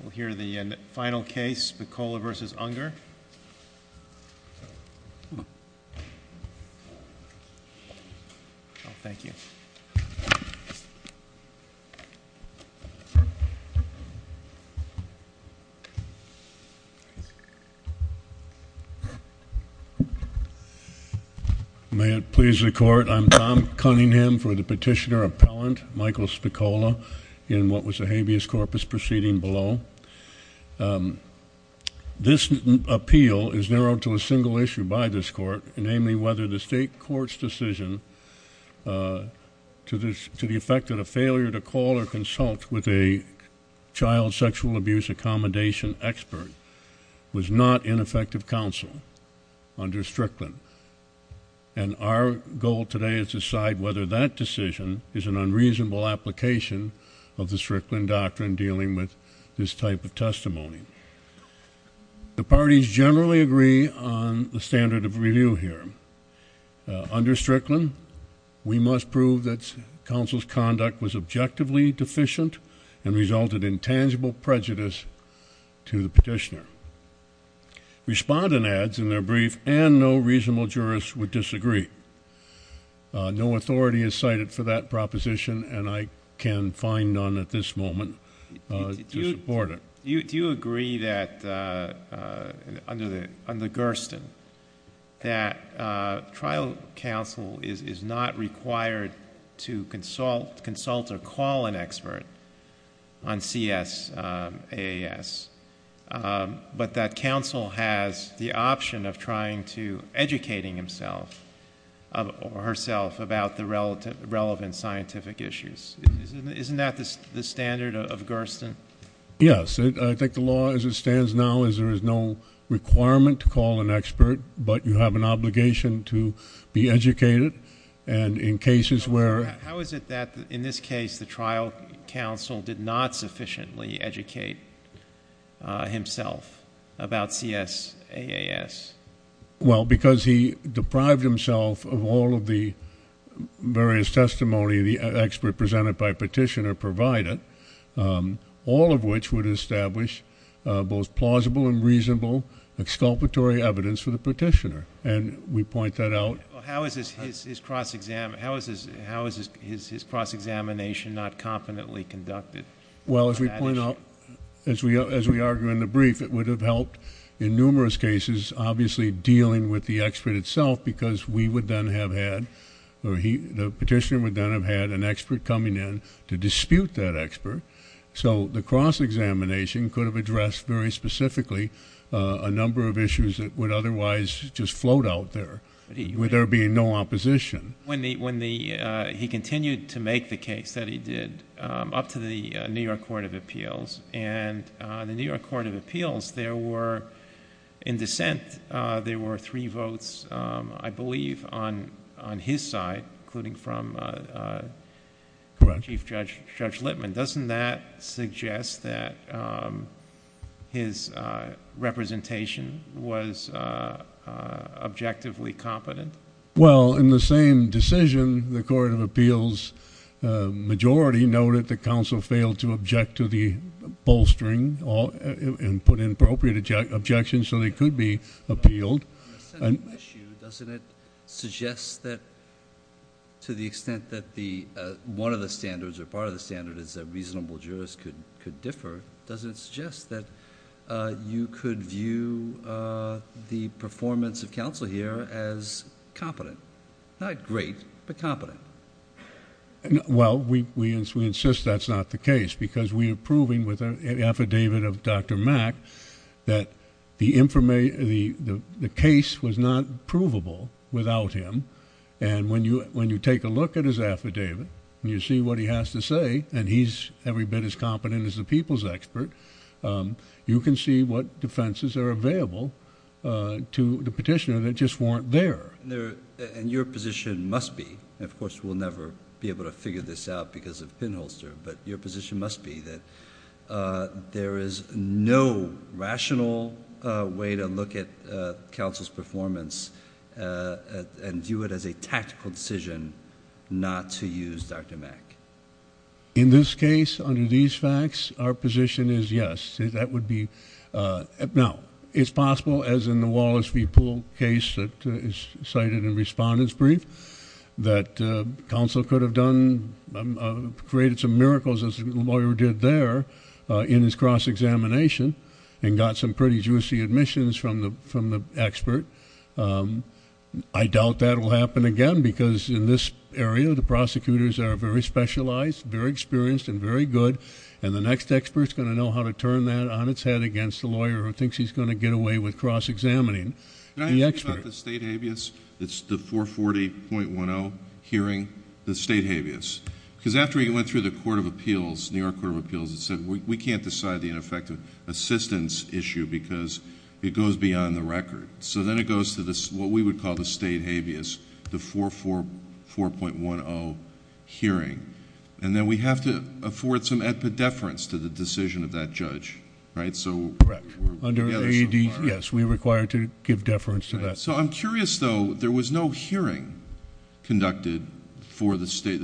We'll hear the final case, Spicola v. Unger. Thank you. May it please the court, I'm Tom Cunningham for the petitioner appellant Michael Spicola in what was a habeas corpus proceeding below. This appeal is narrowed to a single issue by this court, namely whether the state court's decision to the effect that a failure to call or consult with a child sexual abuse accommodation expert was not ineffective counsel under Strickland. And our goal today is to decide whether that decision is an unreasonable application of the Strickland doctrine dealing with this type of testimony. The parties generally agree on the standard of review here. Under Strickland, we must prove that counsel's conduct was objectively deficient and resulted in tangible prejudice to the petitioner. Respondent adds in their brief, and no reasonable jurist would disagree. No authority is cited for that proposition, and I can find none at this moment to support it. Do you agree that, under Gersten, that trial counsel is not required to consult or call an expert on CSAAS, but that counsel has the option of trying to educating himself or herself about the relevant scientific issues? Isn't that the standard of Gersten? Yes. I think the law as it stands now is there is no requirement to call an expert, but you have an obligation to be educated. And in cases where — How is it that, in this case, the trial counsel did not sufficiently educate himself about CSAAS? Well, because he deprived himself of all of the various testimony the expert presented by petitioner provided, all of which would establish both plausible and reasonable exculpatory evidence for the petitioner. And we point that out. How is his cross-examination not competently conducted? Well, as we argue in the brief, it would have helped in numerous cases, obviously dealing with the expert itself, because we would then have had — or the petitioner would then have had an expert coming in to dispute that expert. So the cross-examination could have addressed very specifically a number of issues that would otherwise just float out there, with there being no opposition. When he continued to make the case that he did up to the New York Court of Appeals, and the New York Court of Appeals, there were — in dissent, there were three votes, I believe, on his side, including from Chief Judge Lippman. Correct. Doesn't that suggest that his representation was objectively competent? Well, in the same decision, the Court of Appeals majority noted that counsel failed to object to the bolstering and put in appropriate objections so they could be appealed. On a central issue, doesn't it suggest that, to the extent that the — one of the standards or part of the standard is that reasonable jurists could differ, doesn't it suggest that you could view the performance of counsel here as competent? Not great, but competent. Well, we insist that's not the case because we are proving with an affidavit of Dr. Mack that the case was not provable without him. And when you take a look at his affidavit and you see what he has to say, and he's every bit as competent as the people's expert, you can see what defenses are available to the petitioner that just weren't there. And your position must be, and of course we'll never be able to figure this out because of pinholster, but your position must be that there is no rational way to look at counsel's performance and view it as a tactical decision not to use Dr. Mack. In this case, under these facts, our position is yes. Now, it's possible, as in the Wallace v. Poole case that is cited in Respondent's Brief, that counsel could have done — created some miracles, as the lawyer did there in his cross-examination and got some pretty juicy admissions from the expert. I doubt that will happen again because in this area, the prosecutors are very specialized, very experienced, and very good. And the next expert's going to know how to turn that on its head against the lawyer who thinks he's going to get away with cross-examining the expert. Can I ask you about the state habeas? It's the 440.10 hearing, the state habeas. Because after he went through the Court of Appeals, New York Court of Appeals, it said, we can't decide the ineffective assistance issue because it goes beyond the record. So then it goes to what we would call the state habeas, the 440.10 hearing. And then we have to afford some epidefference to the decision of that judge, right? Correct. Yes, we are required to give deference to that. So I'm curious, though. There was no hearing conducted for the state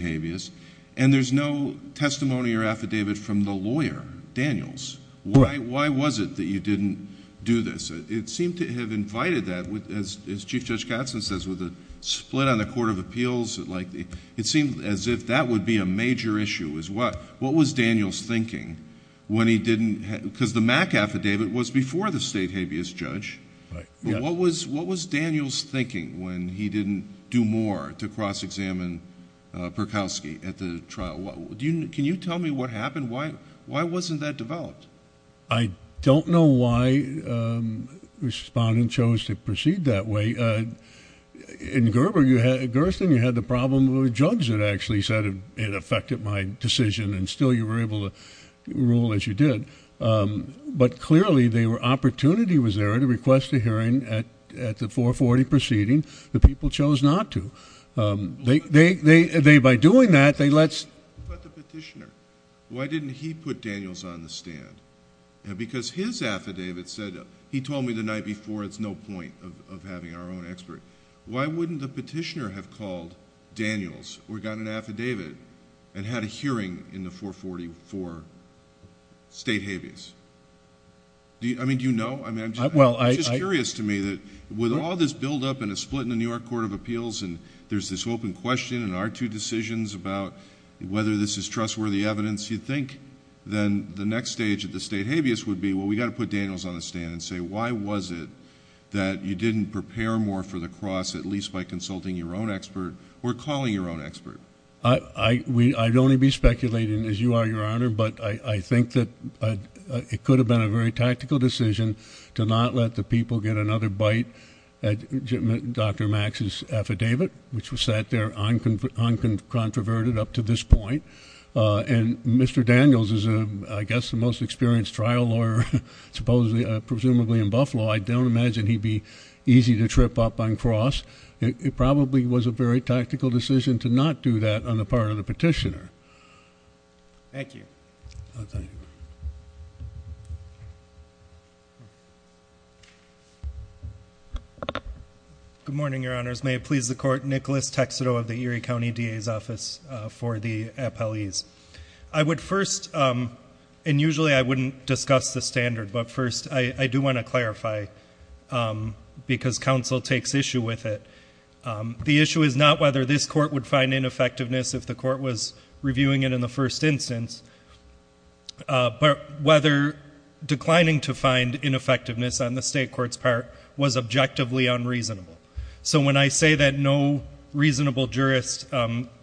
habeas, and there's no testimony or affidavit from the lawyer, Daniels. Why was it that you didn't do this? It seemed to have invited that, as Chief Judge Katzen says, with a split on the Court of Appeals. It seemed as if that would be a major issue. What was Daniels thinking when he didn't... because the MAC affidavit was before the state habeas judge. Right. But what was Daniels thinking when he didn't do more to cross-examine Berkowski at the trial? Can you tell me what happened? Why wasn't that developed? I don't know why Respondent chose to proceed that way. In Gerstin, you had the problem of a judge that actually said it affected my decision, and still you were able to rule as you did. But clearly, the opportunity was there to request a hearing at the 440 proceeding. The people chose not to. They, by doing that, they let... Because his affidavit said, he told me the night before, it's no point of having our own expert. Why wouldn't the petitioner have called Daniels or gotten an affidavit and had a hearing in the 440 for state habeas? I mean, do you know? I'm just curious to me that with all this buildup and a split in the New York Court of Appeals, and there's this open question in our two decisions about whether this is trustworthy evidence. You'd think then the next stage of the state habeas would be, well, we've got to put Daniels on the stand and say, why was it that you didn't prepare more for the cross, at least by consulting your own expert or calling your own expert? I'd only be speculating, as you are, Your Honor, but I think that it could have been a very tactical decision to not let the people get another bite at Dr. Max's affidavit, which was sat there uncontroverted up to this point. And Mr. Daniels is, I guess, the most experienced trial lawyer, presumably in Buffalo. I don't imagine he'd be easy to trip up on cross. It probably was a very tactical decision to not do that on the part of the petitioner. Thank you. Good morning, Your Honors. May it please the Court, Nicholas Texedo of the Erie County DA's Office for the Appellees. I would first, and usually I wouldn't discuss the standard, but first I do want to clarify, because counsel takes issue with it. The issue is not whether this court would find ineffectiveness if the court was reviewing it in the first instance, but whether declining to find ineffectiveness on the state court's part was objectively unreasonable. So when I say that no reasonable jurist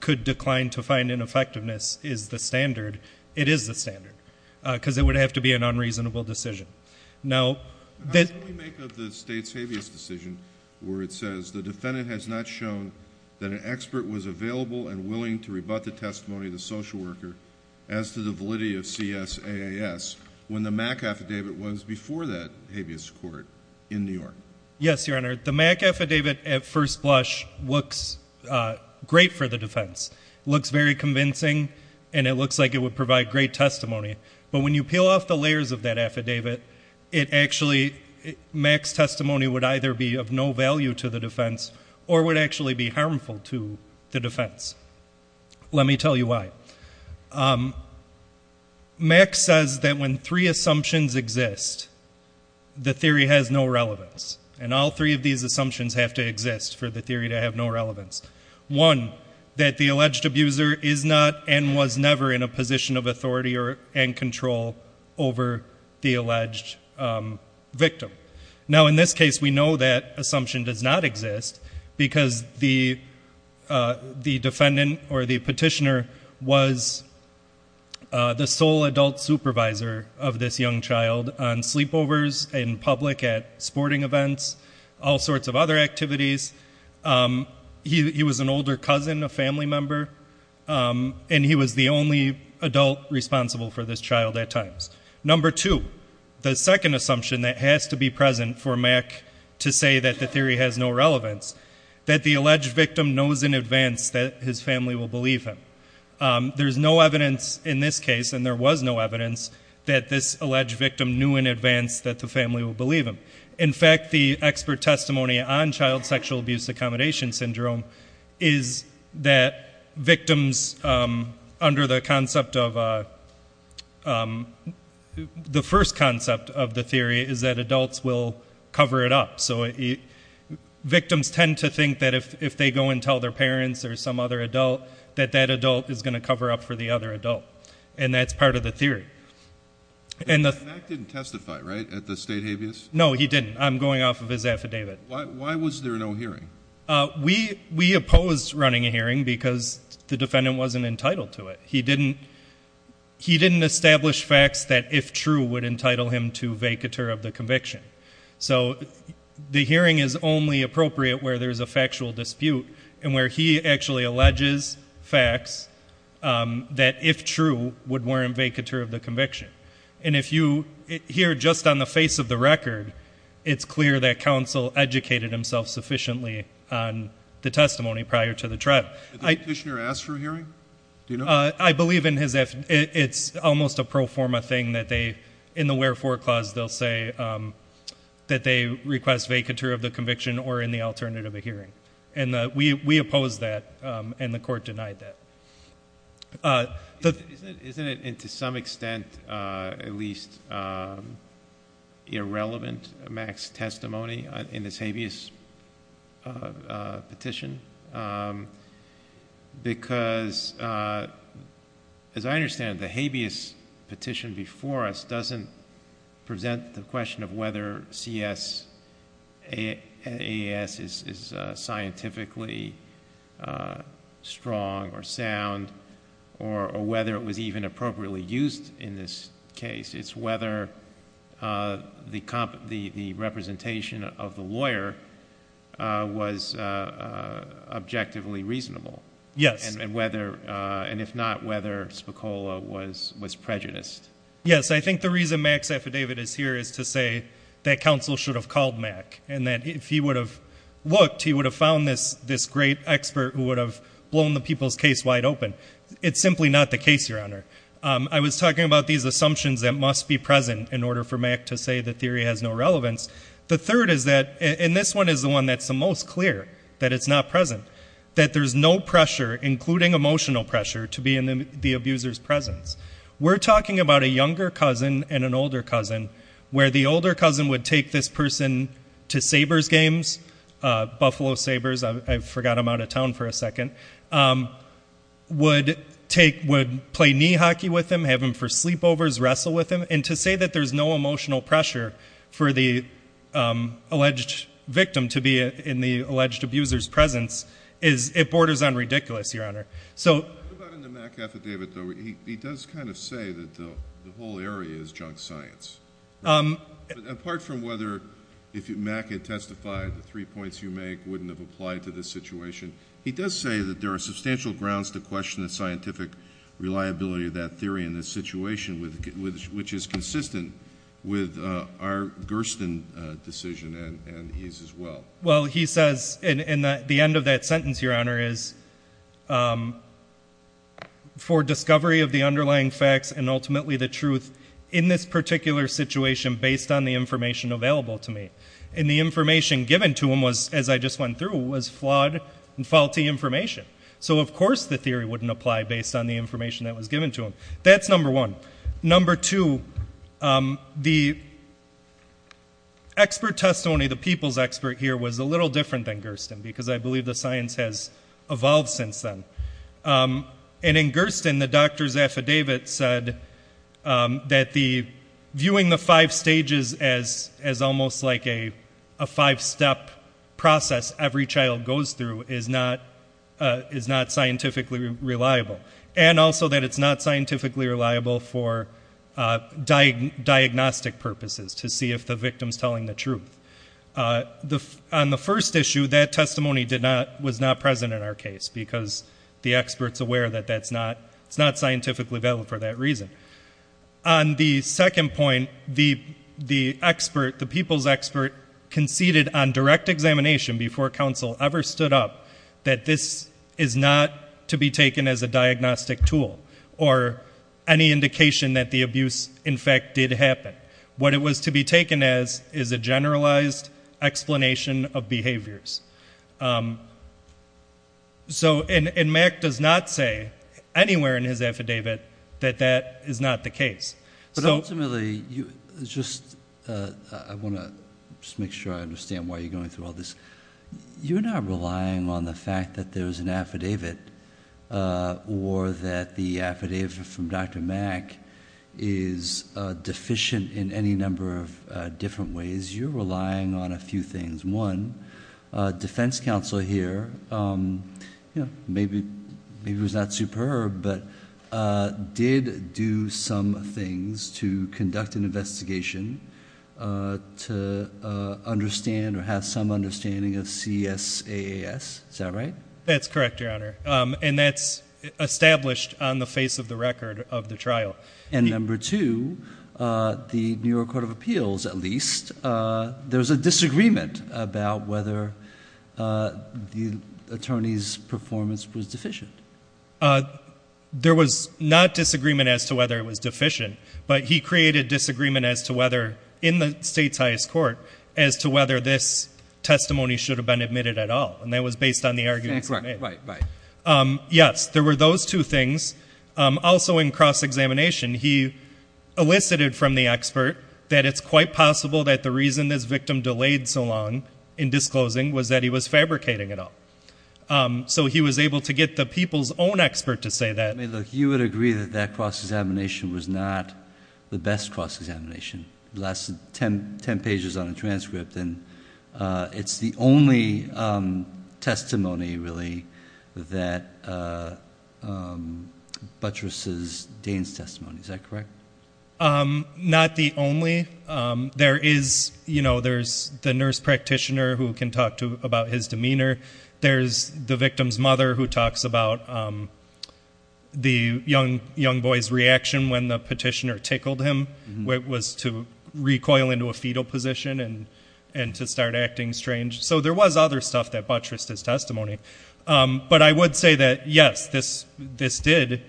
could decline to find ineffectiveness is the standard, it is the standard, because it would have to be an unreasonable decision. How do we make of the state's habeas decision where it says the defendant has not shown that an expert was available and willing to rebut the testimony of the social worker as to the validity of CSAAS when the MAC affidavit was before that habeas court in New York? Yes, Your Honor. The MAC affidavit at first blush looks great for the defense. It looks very convincing and it looks like it would provide great testimony. But when you peel off the layers of that affidavit, MAC's testimony would either be of no value to the defense or would actually be harmful to the defense. Let me tell you why. MAC says that when three assumptions exist, the theory has no relevance. And all three of these assumptions have to exist for the theory to have no relevance. One, that the alleged abuser is not and was never in a position of authority and control over the alleged victim. Now, in this case, we know that assumption does not exist because the defendant or the petitioner was the sole adult supervisor of this young child on sleepovers, in public, at sporting events, all sorts of other activities. He was an older cousin, a family member, and he was the only adult responsible for this child at times. Number two, the second assumption that has to be present for MAC to say that the theory has no relevance, that the alleged victim knows in advance that his family will believe him. There's no evidence in this case, and there was no evidence, that this alleged victim knew in advance that the family will believe him. In fact, the expert testimony on child sexual abuse accommodation syndrome is that victims, under the concept of the first concept of the theory, is that adults will cover it up. So victims tend to think that if they go and tell their parents or some other adult, that that adult is going to cover up for the other adult, and that's part of the theory. And MAC didn't testify, right, at the state habeas? No, he didn't. I'm going off of his affidavit. Why was there no hearing? We opposed running a hearing because the defendant wasn't entitled to it. He didn't establish facts that, if true, would entitle him to vacatur of the conviction. So the hearing is only appropriate where there's a factual dispute, and where he actually alleges facts that, if true, would warrant vacatur of the conviction. And if you hear just on the face of the record, it's clear that counsel educated himself sufficiently on the testimony prior to the trial. Did the petitioner ask for a hearing? Do you know? I believe in his affidavit. It's almost a pro forma thing that they, in the wherefore clause, they'll say that they request vacatur of the conviction or in the alternative, a hearing. And we opposed that, and the court denied that. Isn't it, to some extent, at least irrelevant, MAC's testimony in this habeas petition? Because, as I understand it, the habeas petition before us doesn't present the question of whether C.S.A.S. is scientifically strong or sound, or whether it was even appropriately used in this case. It's whether the representation of the lawyer was objectively reasonable. Yes. And if not, whether Spicola was prejudiced. Yes, I think the reason MAC's affidavit is here is to say that counsel should have called MAC, and that if he would have looked, he would have found this great expert who would have blown the people's case wide open. It's simply not the case, Your Honor. I was talking about these assumptions that must be present in order for MAC to say the theory has no relevance. The third is that, and this one is the one that's the most clear, that it's not present, that there's no pressure, including emotional pressure, to be in the abuser's presence. We're talking about a younger cousin and an older cousin, where the older cousin would take this person to Sabres games, Buffalo Sabres, I forgot I'm out of town for a second, would play knee hockey with him, have him for sleepovers, wrestle with him, and to say that there's no emotional pressure for the alleged victim to be in the alleged abuser's presence, it borders on ridiculous, Your Honor. What about in the MAC affidavit, though? He does kind of say that the whole area is junk science. Apart from whether MAC had testified, the three points you make wouldn't have applied to this situation, he does say that there are substantial grounds to question the scientific reliability of that theory in this situation, which is consistent with our Gersten decision, and his as well. Well, he says at the end of that sentence, Your Honor, is for discovery of the underlying facts and ultimately the truth in this particular situation based on the information available to me. And the information given to him, as I just went through, was flawed and faulty information. So of course the theory wouldn't apply based on the information that was given to him. That's number one. Number two, the expert testimony, the people's expert here, was a little different than Gersten, because I believe the science has evolved since then. And in Gersten, the doctor's affidavit said that viewing the five stages as almost like a five-step process every child goes through is not scientifically reliable, and also that it's not scientifically reliable for diagnostic purposes to see if the victim is telling the truth. On the first issue, that testimony was not present in our case because the expert's aware that it's not scientifically available for that reason. On the second point, the people's expert conceded on direct examination before counsel ever stood up that this is not to be taken as a diagnostic tool or any indication that the abuse, in fact, did happen. What it was to be taken as is a generalized explanation of behaviors. And Mack does not say anywhere in his affidavit that that is not the case. But ultimately, I want to just make sure I understand why you're going through all this. You're not relying on the fact that there's an affidavit or that the affidavit from Dr. Mack is deficient in any number of different ways. You're relying on a few things. One, defense counsel here, maybe it was not superb, but did do some things to conduct an investigation to understand or have some understanding of CSAAS. Is that right? That's correct, Your Honor. And that's established on the face of the record of the trial. And number two, the New York Court of Appeals, at least, there's a disagreement about whether the attorney's performance was deficient. There was not disagreement as to whether it was deficient, but he created disagreement as to whether, in the state's highest court, as to whether this testimony should have been admitted at all. And that was based on the argument. That's right. Yes, there were those two things. Also, in cross-examination, he elicited from the expert that it's quite possible that the reason this victim delayed so long in disclosing was that he was fabricating it all. So he was able to get the people's own expert to say that. Look, you would agree that that cross-examination was not the best cross-examination. It lasted 10 pages on a transcript. It's the only testimony, really, that buttresses Dane's testimony. Is that correct? Not the only. There is the nurse practitioner who can talk about his demeanor. There's the victim's mother who talks about the young boy's reaction when the petitioner tickled him. It was to recoil into a fetal position and to start acting strange. So there was other stuff that buttressed his testimony. But I would say that, yes, this did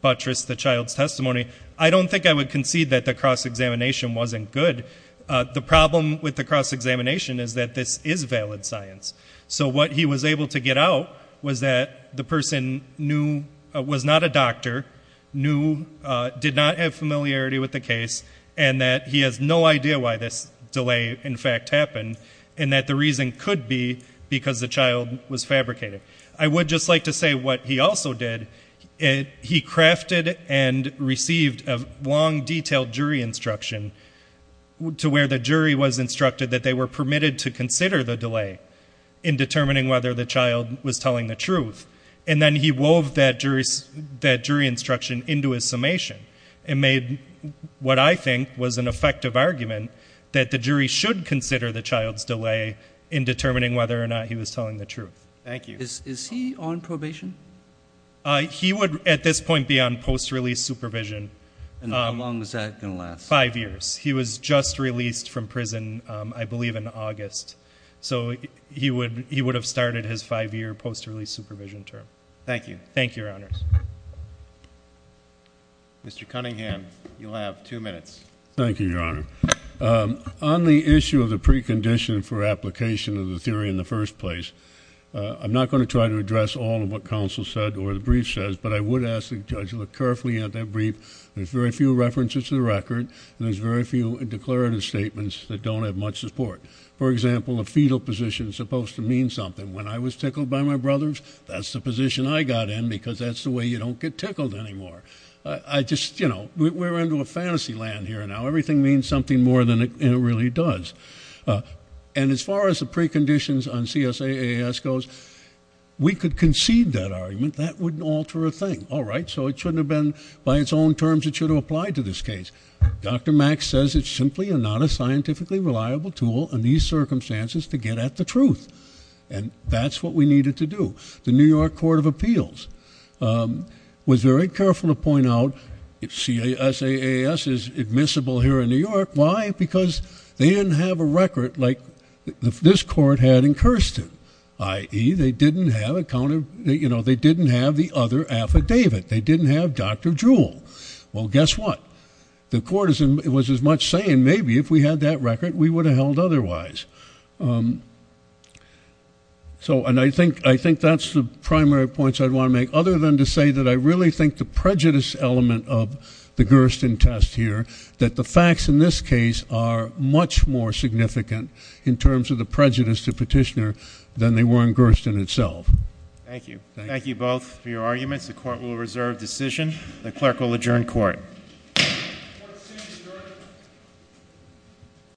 buttress the child's testimony. I don't think I would concede that the cross-examination wasn't good. The problem with the cross-examination is that this is valid science. So what he was able to get out was that the person was not a doctor, knew, did not have familiarity with the case, and that he has no idea why this delay, in fact, happened, and that the reason could be because the child was fabricated. I would just like to say what he also did. He crafted and received a long, detailed jury instruction to where the jury was instructed that they were permitted to consider the delay in determining whether the child was telling the truth. And then he wove that jury instruction into his summation and made what I think was an effective argument that the jury should consider the child's delay in determining whether or not he was telling the truth. Thank you. Is he on probation? He would, at this point, be on post-release supervision. And how long is that going to last? Five years. He was just released from prison, I believe, in August. So he would have started his five-year post-release supervision term. Thank you. Thank you, Your Honors. Mr. Cunningham, you'll have two minutes. Thank you, Your Honor. On the issue of the precondition for application of the theory in the first place, I'm not going to try to address all of what counsel said or the brief says, but I would ask the judge to look carefully at that brief. There's very few references to the record, and there's very few declarative statements that don't have much support. For example, a fetal position is supposed to mean something. When I was tickled by my brothers, that's the position I got in because that's the way you don't get tickled anymore. I just, you know, we're into a fantasy land here now. Everything means something more than it really does. And as far as the preconditions on CSAAS goes, we could concede that argument. That wouldn't alter a thing. All right, so it shouldn't have been by its own terms it should have applied to this case. Dr. Max says it's simply not a scientifically reliable tool in these circumstances to get at the truth, and that's what we needed to do. The New York Court of Appeals was very careful to point out if CSAAS is admissible here in New York. Why? Because they didn't have a record like this court had in Kirsten, i.e., they didn't have the other affidavit. They didn't have Dr. Jewell. Well, guess what? The court was as much saying maybe if we had that record we would have held otherwise. And I think that's the primary points I'd want to make, other than to say that I really think the prejudice element of the Kirsten test here, that the facts in this case are much more significant in terms of the prejudice to Petitioner than they were in Kirsten itself. Thank you. Thank you both for your arguments. The Court will reserve decision. The clerk will adjourn court.